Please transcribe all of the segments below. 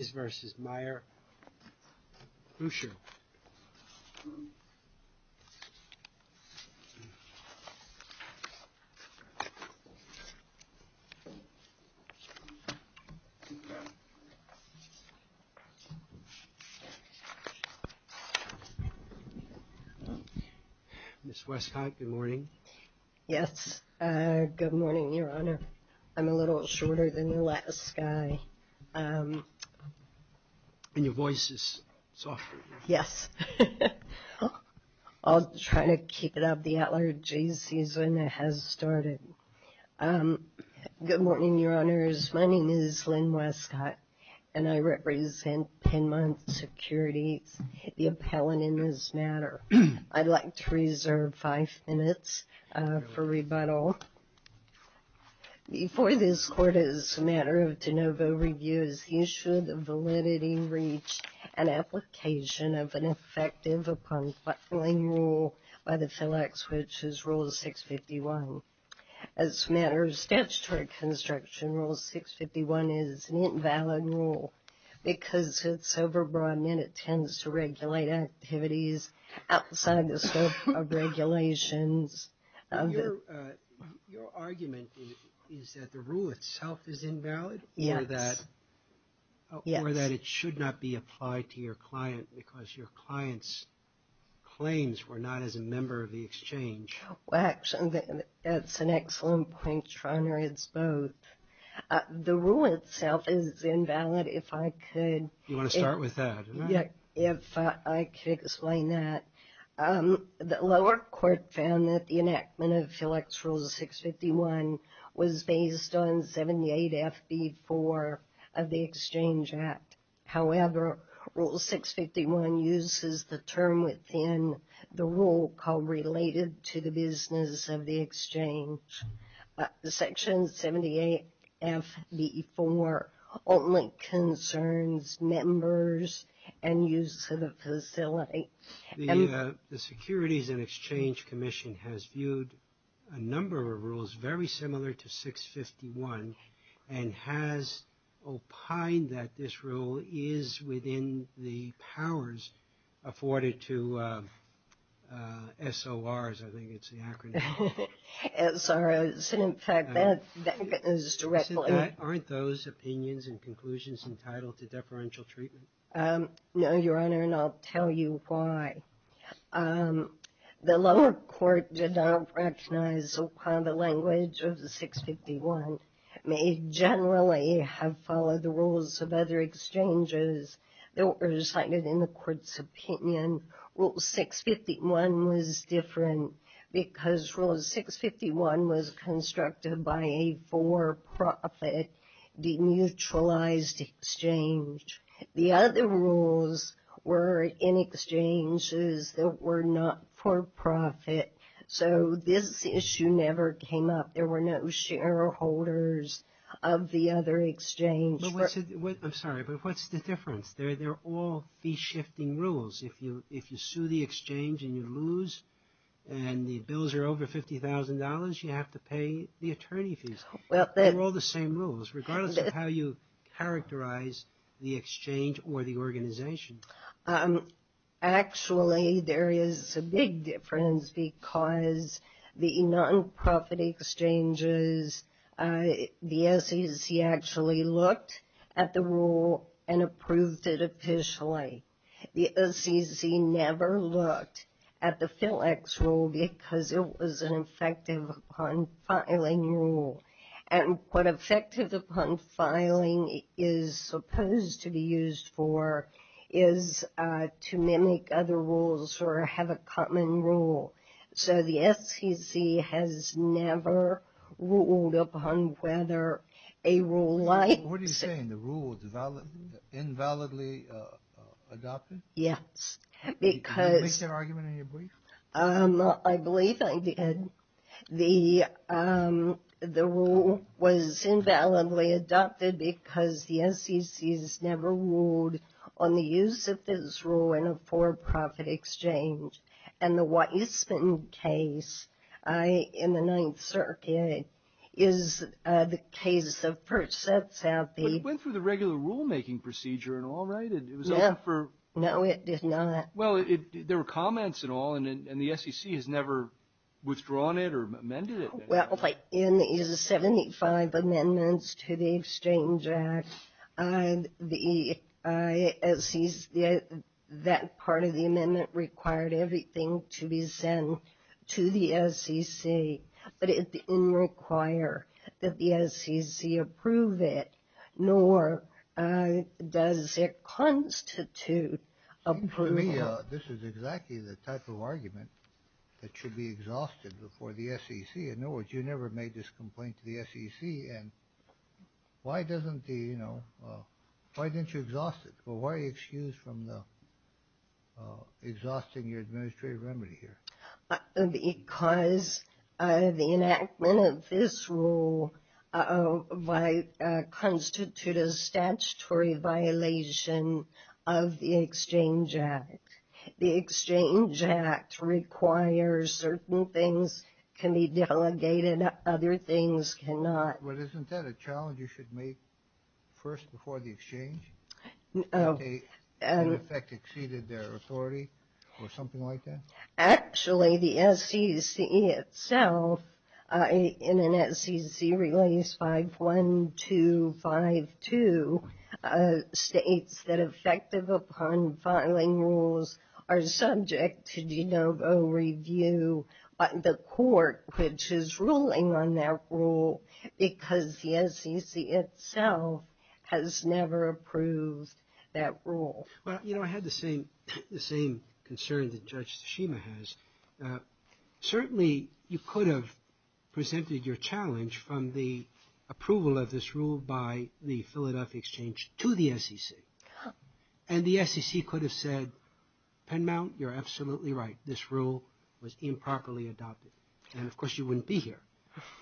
Mrs. Westcott, good morning Yes, good morning, your honor I'm a little shorter than the last guy. And your voice is soft. Yes, I'll try to keep it up. The allergy season has started. Good morning, your honors. My name is Lynn Westcott and I represent Penmont Security, the appellant in this matter. I'd like to reserve five minutes for rebuttal. Before this court, as a matter of de novo review, you should validity reach an application of an effective upon filing rule by the FLEX, which is rule 651. As a matter of statutory construction, rule 651 is an invalid rule because it's overbroad and it tends to go outside the scope of regulations. Your argument is that the rule itself is invalid? Yes. Or that it should not be applied to your client because your client's claims were not as a member of the exchange? Well, actually, that's an excellent point, your honor. It's both. The rule itself is invalid if I could... You The lower court found that the enactment of FLEX rule 651 was based on 78 FB4 of the Exchange Act. However, rule 651 uses the term within the rule called related to the business of the exchange. Section 78 FB4 only concerns members and use of facility. The Securities and Exchange Commission has viewed a number of rules very similar to 651 and has opined that this rule is within the powers afforded to SORs, I think it's the acronym. SORs, in fact, that is directly... Aren't those opinions and conclusions entitled to deferential treatment? No, your honor, and I'll tell you why. The lower court did not recognize the language of 651. It may generally have followed the rules of other exchanges that were cited in the court's opinion. Rule 651 was different because rule 651 was constructed by a for-profit, deneutralized exchange. The other rules were in exchanges that were not for profit, so this issue never came up. There were no shareholders of the other exchange. I'm sorry, but what's the difference? They're all fee-shifting rules. If you sue the exchange and you lose and the bills are over $50,000, you have to pay the attorney fees. They're all the same rules, regardless of how you characterize the exchange or the organization. Actually, there is a big difference because the non-profit exchanges, the SEC actually looked at the rule and approved it officially. The SEC never looked at the FILEX rule because it was an effective upon filing rule, and what effective upon filing is supposed to be used for is to mimic other rules or have a common rule, so the SEC has never ruled upon whether a rule likes it. What are you saying? The rule was invalidly adopted? Yes, because I believe I did. The rule was invalidly adopted because the SEC has never ruled on the use of this rule in a for-profit exchange, and the Weissman case in the Ninth Circuit is the case of Perchett Southgate. But it went through the regular rulemaking procedure and all, right? No, it did not. Well, there were comments and all, and the SEC has never withdrawn it or amended it. Well, in the 75 amendments to the Exchange Act, that part of the amendment required everything to be sent to the SEC, but it didn't require that the SEC approve it, nor does it constitute approval. This is exactly the type of argument that should be exhausted before the SEC. In other words, you never made this complaint to the SEC, and why doesn't the, you know, why didn't you exhaust it? Well, why are you excused from the exhausting your administrative remedy here? Because the enactment of this rule might constitute a statutory violation of the Exchange Act. The Exchange Act requires certain things can be delegated, other things cannot. Well, isn't that a challenge you should make first before the exchange? That they in effect exceeded their authority or something like that? Actually, the SEC itself, in an SEC Release 51252, states that effective upon filing rules are subject to de novo review by the court which is never approved that rule. Well, you know, I had the same concern that Judge Tsushima has. Certainly, you could have presented your challenge from the approval of this rule by the Philadelphia Exchange to the SEC, and the SEC could have said, Penmount, you're absolutely right, this rule was improperly adopted, and of course you wouldn't be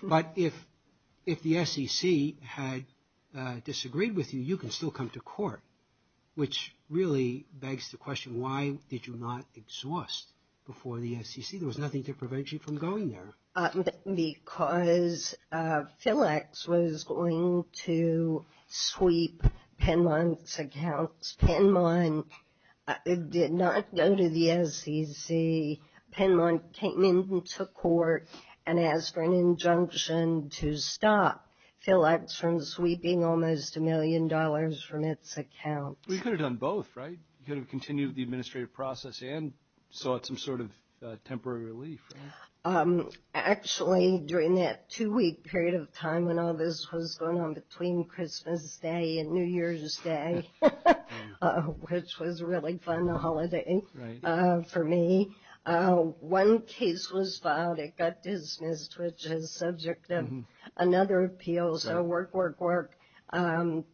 But if the SEC had disagreed with you, you can still come to court, which really begs the question, why did you not exhaust before the SEC? There was nothing to prevent you from going there. Because PhilEx was going to sweep Penmount's accounts. Penmount did not go to the SEC. Penmount came into court and asked for an injunction to stop PhilEx from sweeping almost a million dollars from its account. Well, you could have done both, right? You could have continued the administrative process and sought some sort of temporary relief. Actually, during that two-week period of time when all this was going on between Christmas Day and New Year's Day, which was a really fun holiday for me, one case was filed, it got dismissed, which is subject to another appeal, so work, work, work.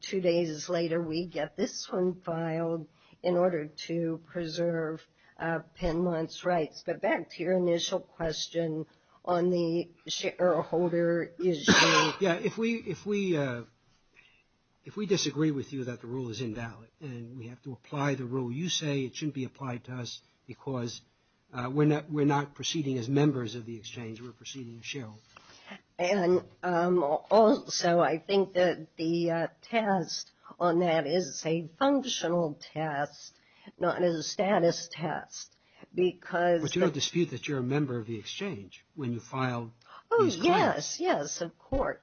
Two days later, we get this one filed in order to preserve Penmount's rights. But back to your initial question on the shareholder issue. Yeah, if we disagree with you that the rule is invalid and we have to apply the rule, you say it shouldn't be applied to us because we're not proceeding as members of the exchange, we're proceeding as shareholders. And also, I think that the test on that is a functional test, not a status test. But you don't dispute that you're a member of the exchange when you file these claims? So whether you're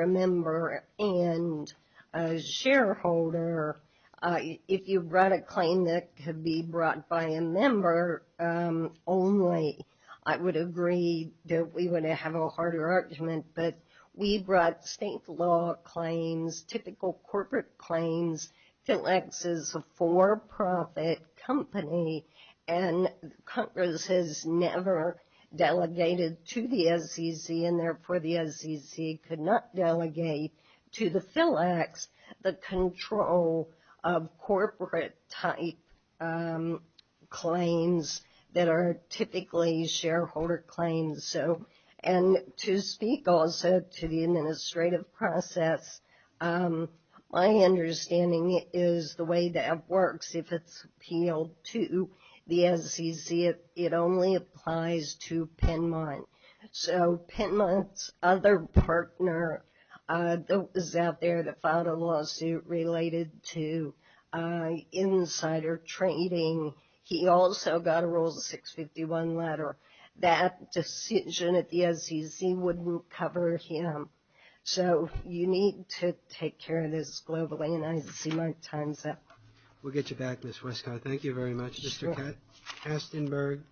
a member and a shareholder, if you brought a claim that could be brought by a member only, I would agree that we would have a harder argument. But we brought state law claims, typical corporate claims. PhilEx is a for-profit company, and Congress has never delegated to the SEC, and therefore the SEC could not delegate to the PhilEx the control of corporate-type claims that are typically shareholder claims. And to speak also to the administrative process, my understanding is the way that works, if it's appealed to the SEC, it only applies to Penmount. So Penmount's other partner that was out there that filed a lawsuit related to insider trading, he also got a Rule 651 letter. That decision at the SEC wouldn't cover him. So you need to take care of this globally, and I see my time's up. We'll get you back, Ms. Westcott. Thank you very much, Mr. Astenberg.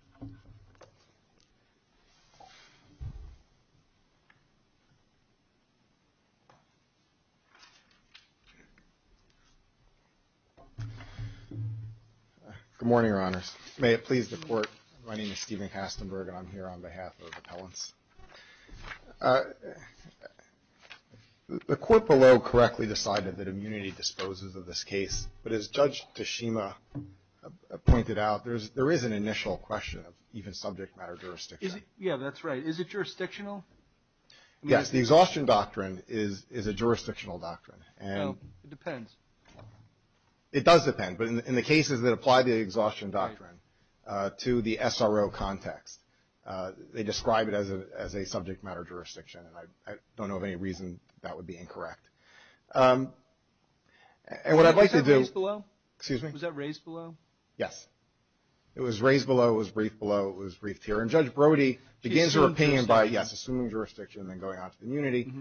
Good morning, Your Honors. May it please the Court, my name is Stephen Astenberg, and I'm here on behalf of appellants. The Court below correctly decided that immunity disposes of this case, but as Judge Tashima pointed out, there is an initial question of even subject matter jurisdiction. Yeah, that's right. Is it jurisdictional? Yes, the exhaustion doctrine is a jurisdictional doctrine. No, it depends. It does depend, but in the cases that apply the exhaustion doctrine to the SRO context, they describe it as a subject matter jurisdiction, and I don't know of any reason that would be incorrect. Was that raised below? Excuse me? Was that raised below? Yes. It was raised below. It was briefed below. It was briefed here, and Judge Brody begins her opinion by, yes, assuming jurisdiction and then going on to immunity,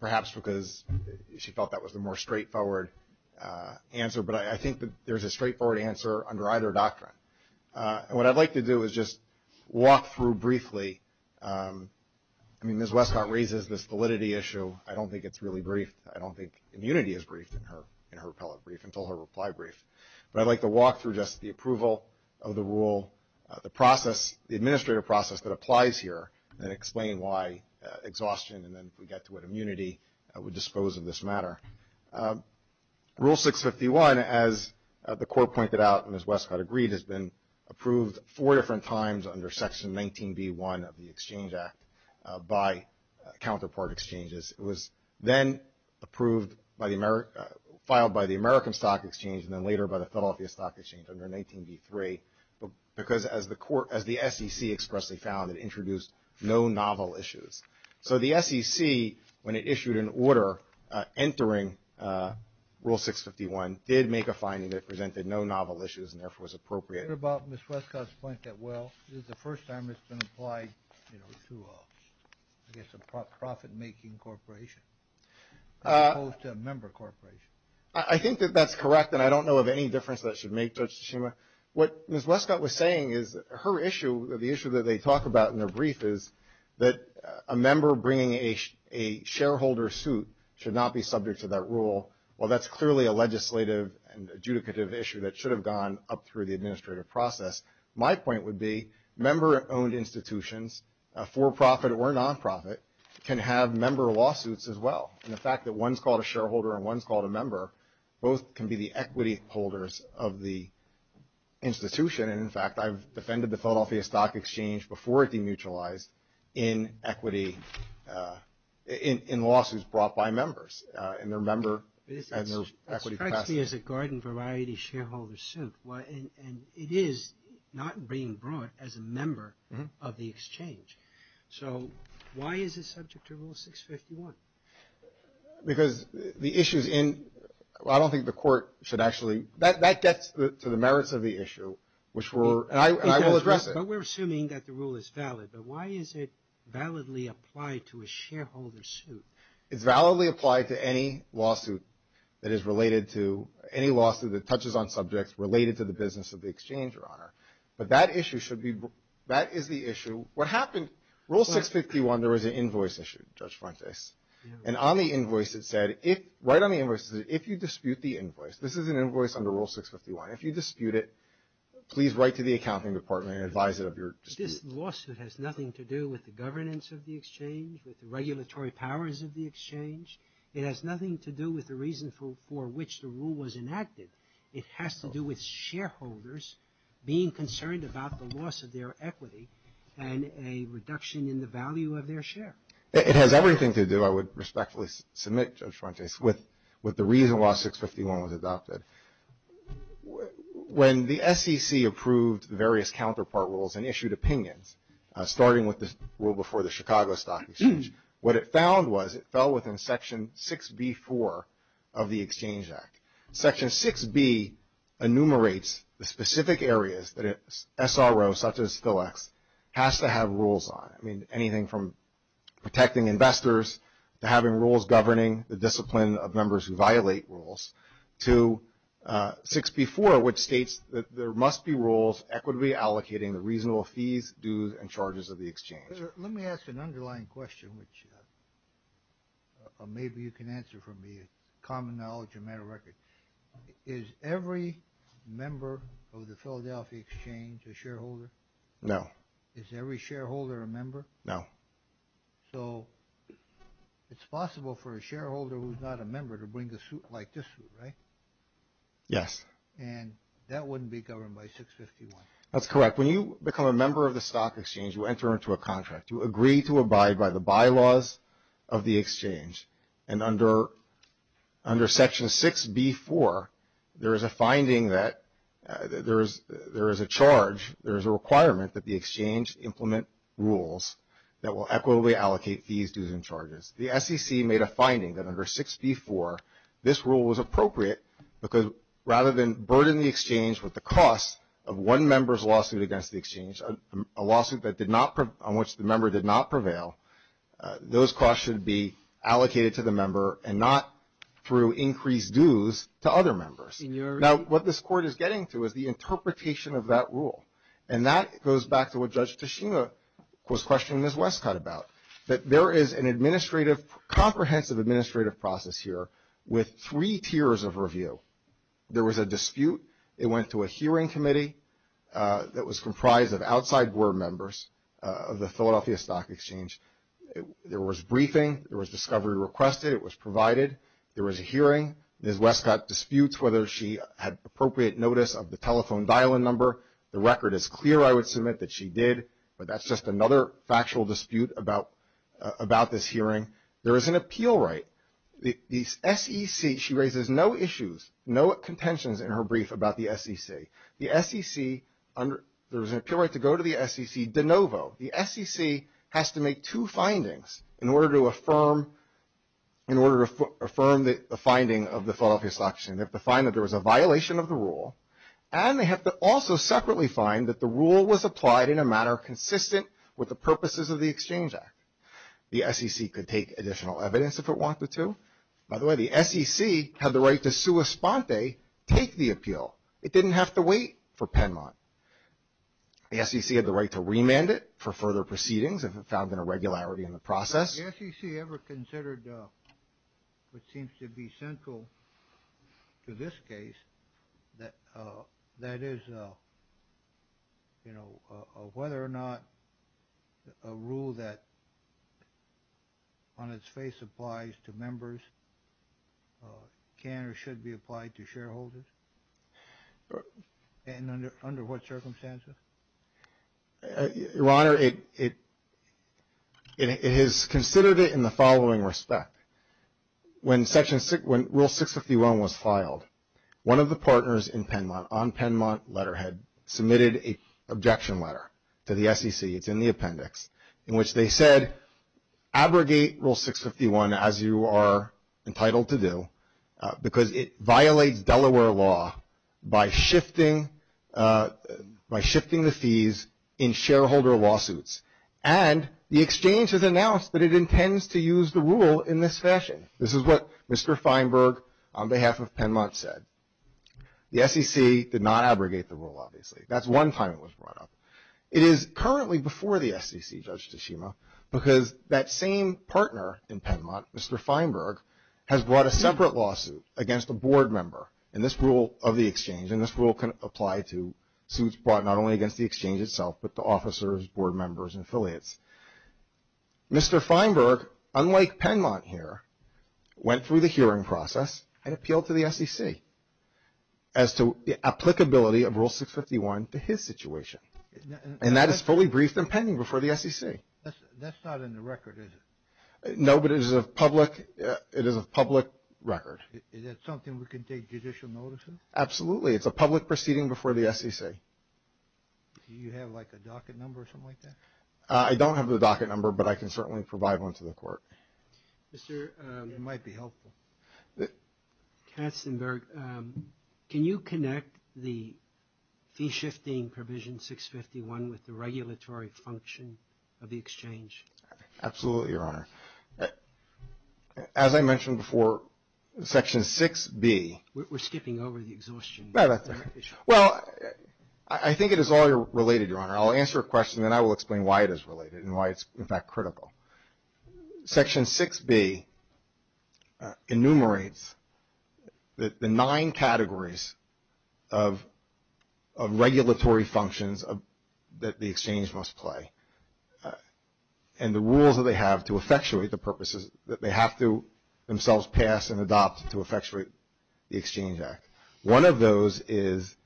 perhaps because she felt that was the more straightforward answer, but I think that there's a straightforward answer under either doctrine, and what I'd like to do is just walk through briefly. I mean, Ms. Westcott raises this validity issue. I don't think it's really briefed. I don't think immunity is briefed in her appellate brief until her reply brief, but I'd like to walk through just the approval of the rule, the process, the administrative process that applies here, and explain why exhaustion and then if we get to what immunity would dispose of this matter. Rule 651, as the Court pointed out and as Westcott agreed, has been approved four different times under Section 19B1 of the Exchange Act by counterpart exchanges. It was then approved by the American stock exchange and then later by the Philadelphia Stock Exchange under 19B3, because as the SEC expressly found, it introduced no novel issues. So the SEC, when it issued an order entering Rule 651, did make a finding that it presented no novel issues and therefore was appropriate. I wonder about Ms. Westcott's point that, well, this is the first time it's been applied to a, I guess, a profit-making corporation as opposed to a member corporation. I think that that's correct, and I don't know of any difference that should make, Judge Tsushima. What Ms. Westcott was saying is her issue, the issue that they talk about in their brief, is that a member bringing a shareholder suit should not be subject to that rule. While that's clearly a legislative and adjudicative issue that should have gone up through the administrative process, my point would be member-owned institutions, for-profit or non-profit, can have member lawsuits as well. And the fact that one's called a shareholder and one's called a member, both can be the equity holders of the institution. And, in fact, I've defended the Philadelphia Stock Exchange before it demutualized in equity, in lawsuits brought by members. And their member has their equity capacity. It's a garden-variety shareholder suit, and it is not being brought as a member of the exchange. So why is it subject to Rule 651? Because the issues in – I don't think the Court should actually – that gets to the merits of the issue, which we're – and I will address it. But we're assuming that the rule is valid. But why is it validly applied to a shareholder suit? It's validly applied to any lawsuit that is related to – any lawsuit that touches on subjects related to the business of the exchange, Your Honor. But that issue should be – that is the issue. What happened – Rule 651, there was an invoice issue, Judge Frontes. And on the invoice, it said, if – right on the invoice, it said, if you dispute the invoice – this is an invoice under Rule 651. If you dispute it, please write to the accounting department and advise it of your dispute. If this lawsuit has nothing to do with the governance of the exchange, with the regulatory powers of the exchange, it has nothing to do with the reason for which the rule was enacted. It has to do with shareholders being concerned about the loss of their equity and a reduction in the value of their share. It has everything to do – I would respectfully submit, Judge Frontes, with the reason why 651 was adopted. When the SEC approved various counterpart rules and issued opinions, starting with the rule before the Chicago Stock Exchange, what it found was it fell within Section 6b-4 of the Exchange Act. Section 6b enumerates the specific areas that an SRO, such as PhilEx, has to have rules on. I mean, anything from protecting investors to having rules governing the discipline of members who violate rules, to 6b-4, which states that there must be rules equitably allocating the reasonable fees, dues, and charges of the exchange. Let me ask an underlying question, which maybe you can answer for me. It's common knowledge, a matter of record. Is every member of the Philadelphia Exchange a shareholder? No. Is every shareholder a member? No. So it's possible for a shareholder who's not a member to bring a suit like this, right? Yes. And that wouldn't be governed by 651. That's correct. When you become a member of the stock exchange, you enter into a contract. You agree to abide by the bylaws of the exchange. And under Section 6b-4, there is a finding that there is a charge, there is a requirement, that the exchange implement rules that will equitably allocate fees, dues, and charges. The SEC made a finding that under 6b-4, this rule was appropriate, because rather than burden the exchange with the cost of one member's lawsuit against the exchange, a lawsuit on which the member did not prevail, those costs should be allocated to the member and not through increased dues to other members. Now, what this Court is getting to is the interpretation of that rule. And that goes back to what Judge Tishina was questioning Ms. Westcott about, that there is a comprehensive administrative process here with three tiers of review. There was a dispute. It went to a hearing committee that was comprised of outside board members of the Philadelphia Stock Exchange. There was briefing. There was discovery requested. It was provided. There was a hearing. Ms. Westcott disputes whether she had appropriate notice of the telephone dial-in number. The record is clear, I would submit, that she did. But that's just another factual dispute about this hearing. There is an appeal right. The SEC, she raises no issues, no contentions in her brief about the SEC. The SEC, there was an appeal right to go to the SEC de novo. The SEC has to make two findings in order to affirm the finding of the Philadelphia Stock Exchange. They have to find that there was a violation of the rule, and they have to also separately find that the rule was applied in a manner consistent with the purposes of the Exchange Act. The SEC could take additional evidence if it wanted to. By the way, the SEC had the right to sua sponte, take the appeal. It didn't have to wait for Penmont. The SEC had the right to remand it for further proceedings if it found an irregularity in the process. Has the SEC ever considered what seems to be central to this case, that is, you know, whether or not a rule that on its face applies to members can or should be applied to shareholders? And under what circumstances? Your Honor, it has considered it in the following respect. When Rule 651 was filed, one of the partners in Penmont, on Penmont letterhead, submitted an objection letter to the SEC. It's in the appendix, in which they said, abrogate Rule 651 as you are entitled to do, because it violates Delaware law by shifting the fees in shareholder lawsuits. And the Exchange has announced that it intends to use the rule in this fashion. This is what Mr. Feinberg, on behalf of Penmont, said. The SEC did not abrogate the rule, obviously. That's one time it was brought up. It is currently before the SEC, Judge Tshima, because that same partner in Penmont, Mr. Feinberg, has brought a separate lawsuit against a board member in this rule of the Exchange. And this rule can apply to suits brought not only against the Exchange itself, but to officers, board members, and affiliates. Mr. Feinberg, unlike Penmont here, went through the hearing process and appealed to the SEC as to the applicability of Rule 651 to his situation. And that is fully briefed and pending before the SEC. That's not in the record, is it? No, but it is a public record. Is that something we can take judicial notice of? Absolutely. It's a public proceeding before the SEC. Do you have like a docket number or something like that? I don't have the docket number, but I can certainly provide one to the court. It might be helpful. Katzenberg, can you connect the fee-shifting provision 651 with the regulatory function of the Exchange? Absolutely, Your Honor. As I mentioned before, Section 6B. We're skipping over the exhaustion. No, that's all right. Well, I think it is already related, Your Honor. I'll answer a question, and then I will explain why it is related and why it's, in fact, critical. Section 6B enumerates the nine categories of regulatory functions that the Exchange must play and the rules that they have to effectuate the purposes that they have to themselves pass and adopt to effectuate the Exchange Act. One of those is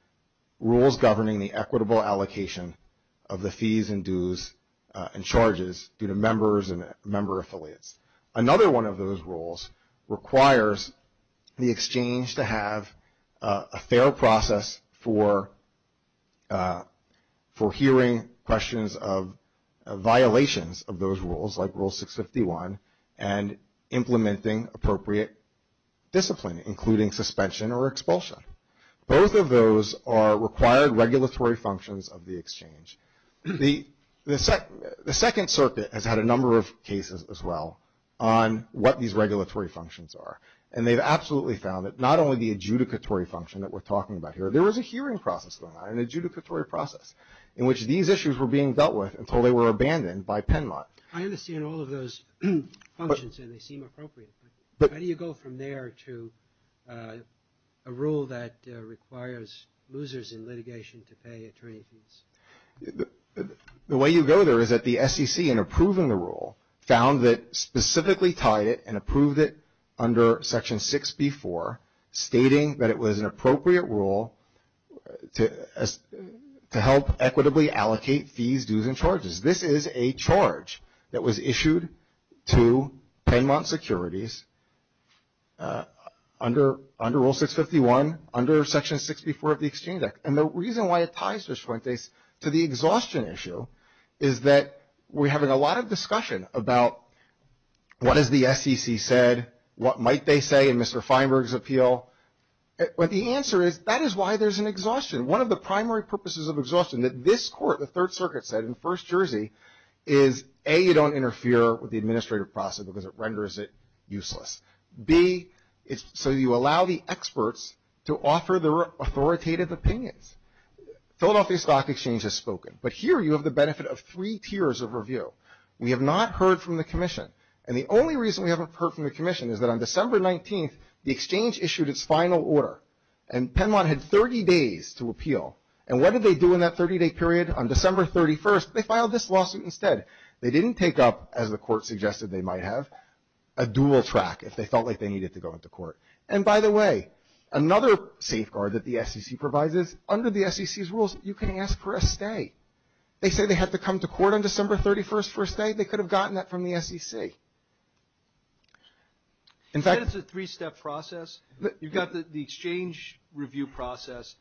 rules governing the equitable allocation of the fees and dues and charges due to members and member affiliates. Another one of those rules requires the Exchange to have a fair process for hearing questions of violations of those rules, like Rule 651, and implementing appropriate discipline, including suspension or expulsion. Both of those are required regulatory functions of the Exchange. The Second Circuit has had a number of cases as well on what these regulatory functions are, and they've absolutely found that not only the adjudicatory function that we're talking about here, there was a hearing process going on, an adjudicatory process, in which these issues were being dealt with until they were abandoned by Penmont. I understand all of those functions, and they seem appropriate, but how do you go from there to a rule that requires losers in litigation to pay attorney fees? The way you go there is that the SEC, in approving the rule, found that specifically tied it and approved it under Section 6B4, stating that it was an appropriate rule to help equitably allocate fees, dues, and charges. This is a charge that was issued to Penmont Securities under Rule 651, under Section 6B4 of the Exchange Act. And the reason why it ties to the exhaustion issue is that we're having a lot of discussion about what has the SEC said, what might they say in Mr. Feinberg's appeal. But the answer is that is why there's an exhaustion. One of the primary purposes of exhaustion that this Court, the Third Circuit, said in First Jersey, is A, you don't interfere with the administrative process because it renders it useless. B, so you allow the experts to offer their authoritative opinions. Philadelphia Stock Exchange has spoken, but here you have the benefit of three tiers of review. We have not heard from the Commission. And the only reason we haven't heard from the Commission is that on December 19th, the Exchange issued its final order, and Penmont had 30 days to appeal. And what did they do in that 30-day period? On December 31st, they filed this lawsuit instead. They didn't take up, as the Court suggested they might have, a dual track, if they felt like they needed to go into court. And by the way, another safeguard that the SEC provides is, under the SEC's rules, you can ask for a stay. They say they had to come to court on December 31st for a stay? They could have gotten that from the SEC. In fact — You said it's a three-step process. You've got the exchange review process.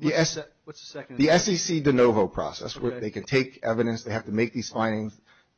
What's the second step? The SEC de novo process, where they can take evidence. They have to make these findings,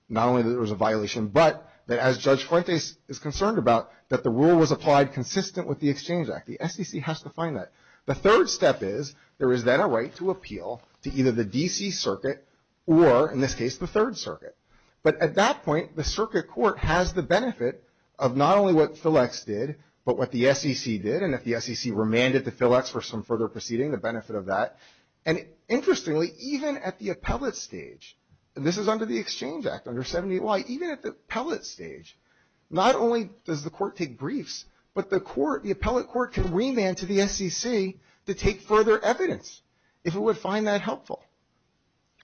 not only that there was a violation, but that, as Judge Fuentes is concerned about, that the rule was applied consistent with the Exchange Act. The SEC has to find that. The third step is, there is then a right to appeal to either the D.C. Circuit or, in this case, the Third Circuit. But at that point, the Circuit Court has the benefit of not only what FILEX did, but what the SEC did. And if the SEC remanded to FILEX for some further proceeding, the benefit of that. And interestingly, even at the appellate stage, and this is under the Exchange Act, under 70-y, even at the appellate stage, not only does the court take briefs, but the appellate court can remand to the SEC to take further evidence, if it would find that helpful.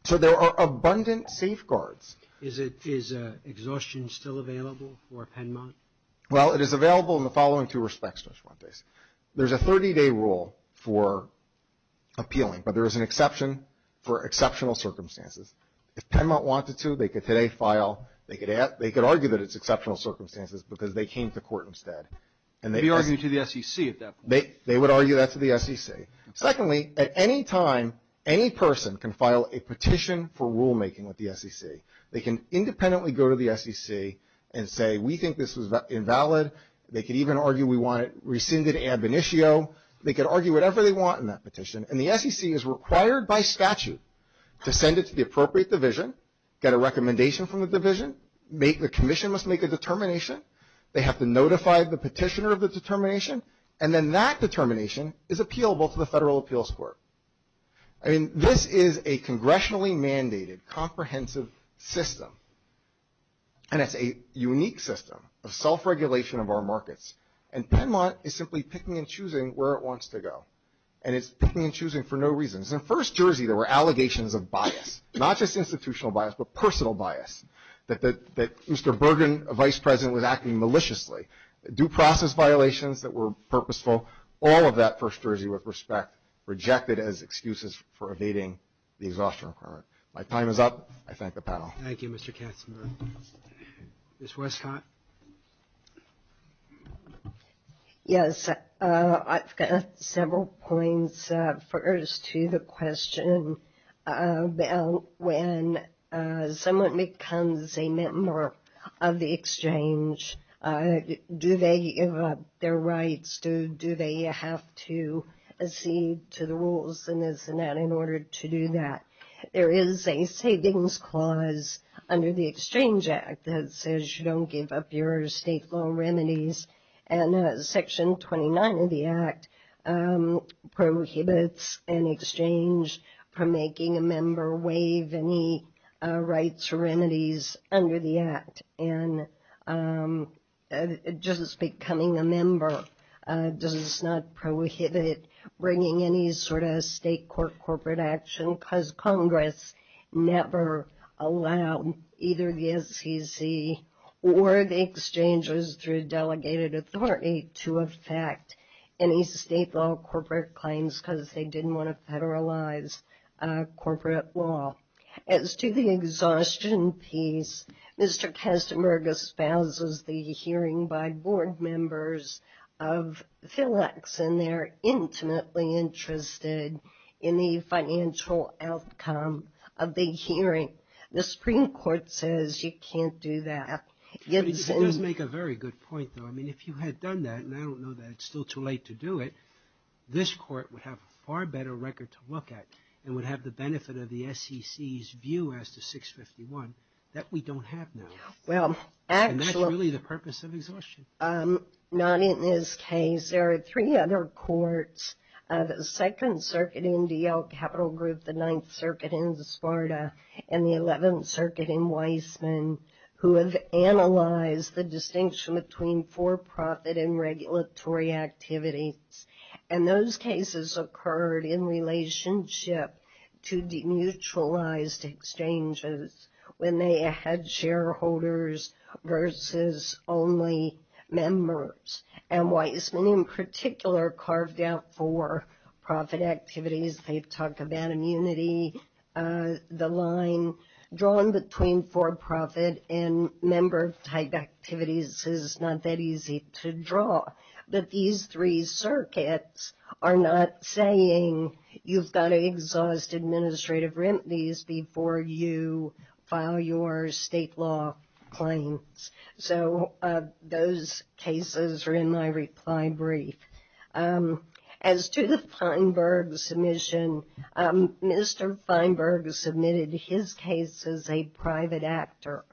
So there are abundant safeguards. Is exhaustion still available for Penmont? Well, it is available in the following two respects, Judge Fuentes. There's a 30-day rule for appealing, but there is an exception for exceptional circumstances. If Penmont wanted to, they could today file, they could argue that it's exceptional circumstances, because they came to court instead. They'd be arguing to the SEC at that point. They would argue that to the SEC. Secondly, at any time, any person can file a petition for rulemaking with the SEC. They can independently go to the SEC and say, we think this was invalid. They could even argue we want it rescinded ad bonitio. They could argue whatever they want in that petition. And the SEC is required by statute to send it to the appropriate division, get a recommendation from the division, make the commission must make a determination. They have to notify the petitioner of the determination, and then that determination is appealable to the Federal Appeals Court. I mean, this is a congressionally mandated, comprehensive system. And it's a unique system of self-regulation of our markets. And Penmont is simply picking and choosing where it wants to go. And it's picking and choosing for no reason. In First Jersey, there were allegations of bias, not just institutional bias, but personal bias, that Mr. Bergen, Vice President, was acting maliciously, due process violations that were purposeful. All of that, First Jersey, with respect, rejected as excuses for evading the exhaustion requirement. My time is up. I thank the panel. Thank you, Mr. Katzenberg. Ms. Westcott. Yes, I've got several points. First, to the question about when someone becomes a member of the exchange, do they have their rights? Do they have to accede to the rules and this and that in order to do that? There is a savings clause under the Exchange Act that says you don't give up your state law remedies. And Section 29 of the Act prohibits an exchange from making a member waive any rights or remedies under the Act. And just becoming a member does not prohibit bringing any sort of state court corporate action because Congress never allowed either the SEC or the exchanges through delegated authority to affect any state law corporate claims because they didn't want to federalize corporate law. As to the exhaustion piece, Mr. Katzenberg espouses the hearing by board members of PhilEx and they're intimately interested in the financial outcome of the hearing. The Supreme Court says you can't do that. It does make a very good point, though. I mean, if you had done that, and I don't know that it's still too late to do it, this court would have a far better record to look at and would have the benefit of the SEC's view as to 651 that we don't have now. And that's really the purpose of exhaustion. Not in this case. There are three other courts, the Second Circuit in D.L. Capital Group, the Ninth Circuit in Sparta, and the Eleventh Circuit in Weissman, who have analyzed the distinction between for-profit and regulatory activities. And those cases occurred in relationship to demutualized exchanges when they had shareholders versus only members. And Weissman, in particular, carved out for-profit activities. They've talked about immunity, the line drawn between for-profit and member-type activities is not that easy to draw. But these three circuits are not saying you've got to exhaust administrative remedies before you file your state law claims. So those cases are in my reply brief. As to the Feinberg submission, Mr. Feinberg submitted his case as a private actor,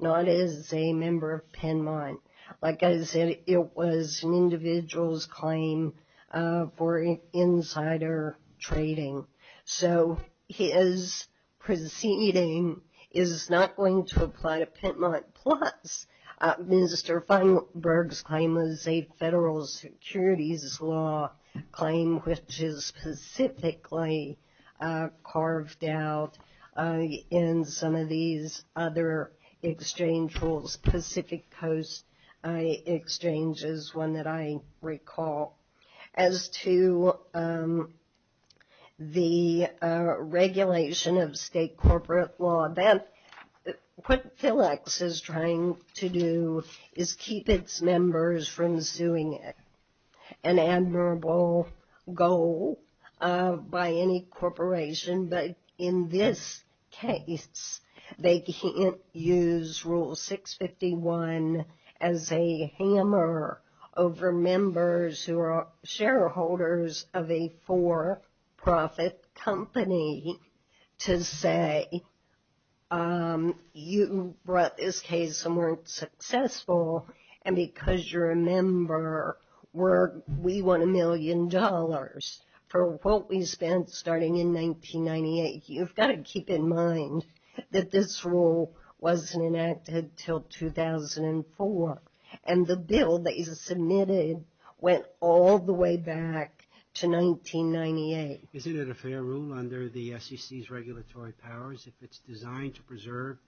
not as a member of Penmont. Like I said, it was an individual's claim for insider trading. So his proceeding is not going to apply to Penmont. Plus, Mr. Feinberg's claim was a federal securities law claim, which is specifically carved out in some of these other exchange rules. Pacific Coast Exchange is one that I recall. As to the regulation of state corporate law, what PhilEx is trying to do is keep its members from suing it, an admirable goal by any corporation. But in this case, they can't use Rule 651 as a hammer over members who are shareholders of a for-profit company to say, you brought this case and weren't successful. And because you're a member, we want a million dollars for what we spent starting in 1998. You've got to keep in mind that this rule wasn't enacted until 2004. And the bill that he submitted went all the way back to 1998. Isn't it a fair rule under the SEC's regulatory powers if it's designed to preserve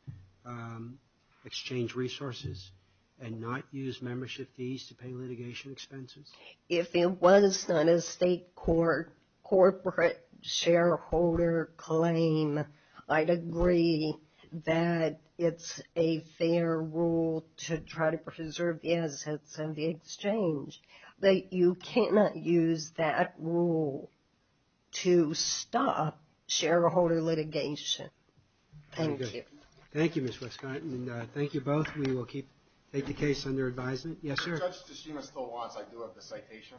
exchange resources and not use membership fees to pay litigation expenses? If it was not a state corporate shareholder claim, I'd agree that it's a fair rule to try to preserve the assets of the exchange. But you cannot use that rule to stop shareholder litigation. Thank you. Thank you, Ms. Westcott. And thank you both. We will keep the case under advisement. Yes, sir? Judge Toshima still wants I do have the citation.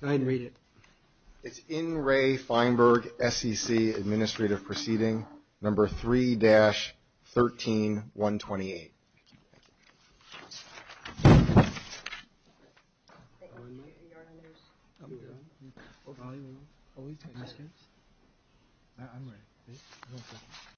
Go ahead and read it. It's N. Ray Feinberg, SEC Administrative Proceeding, Number 3-13128. Thank you.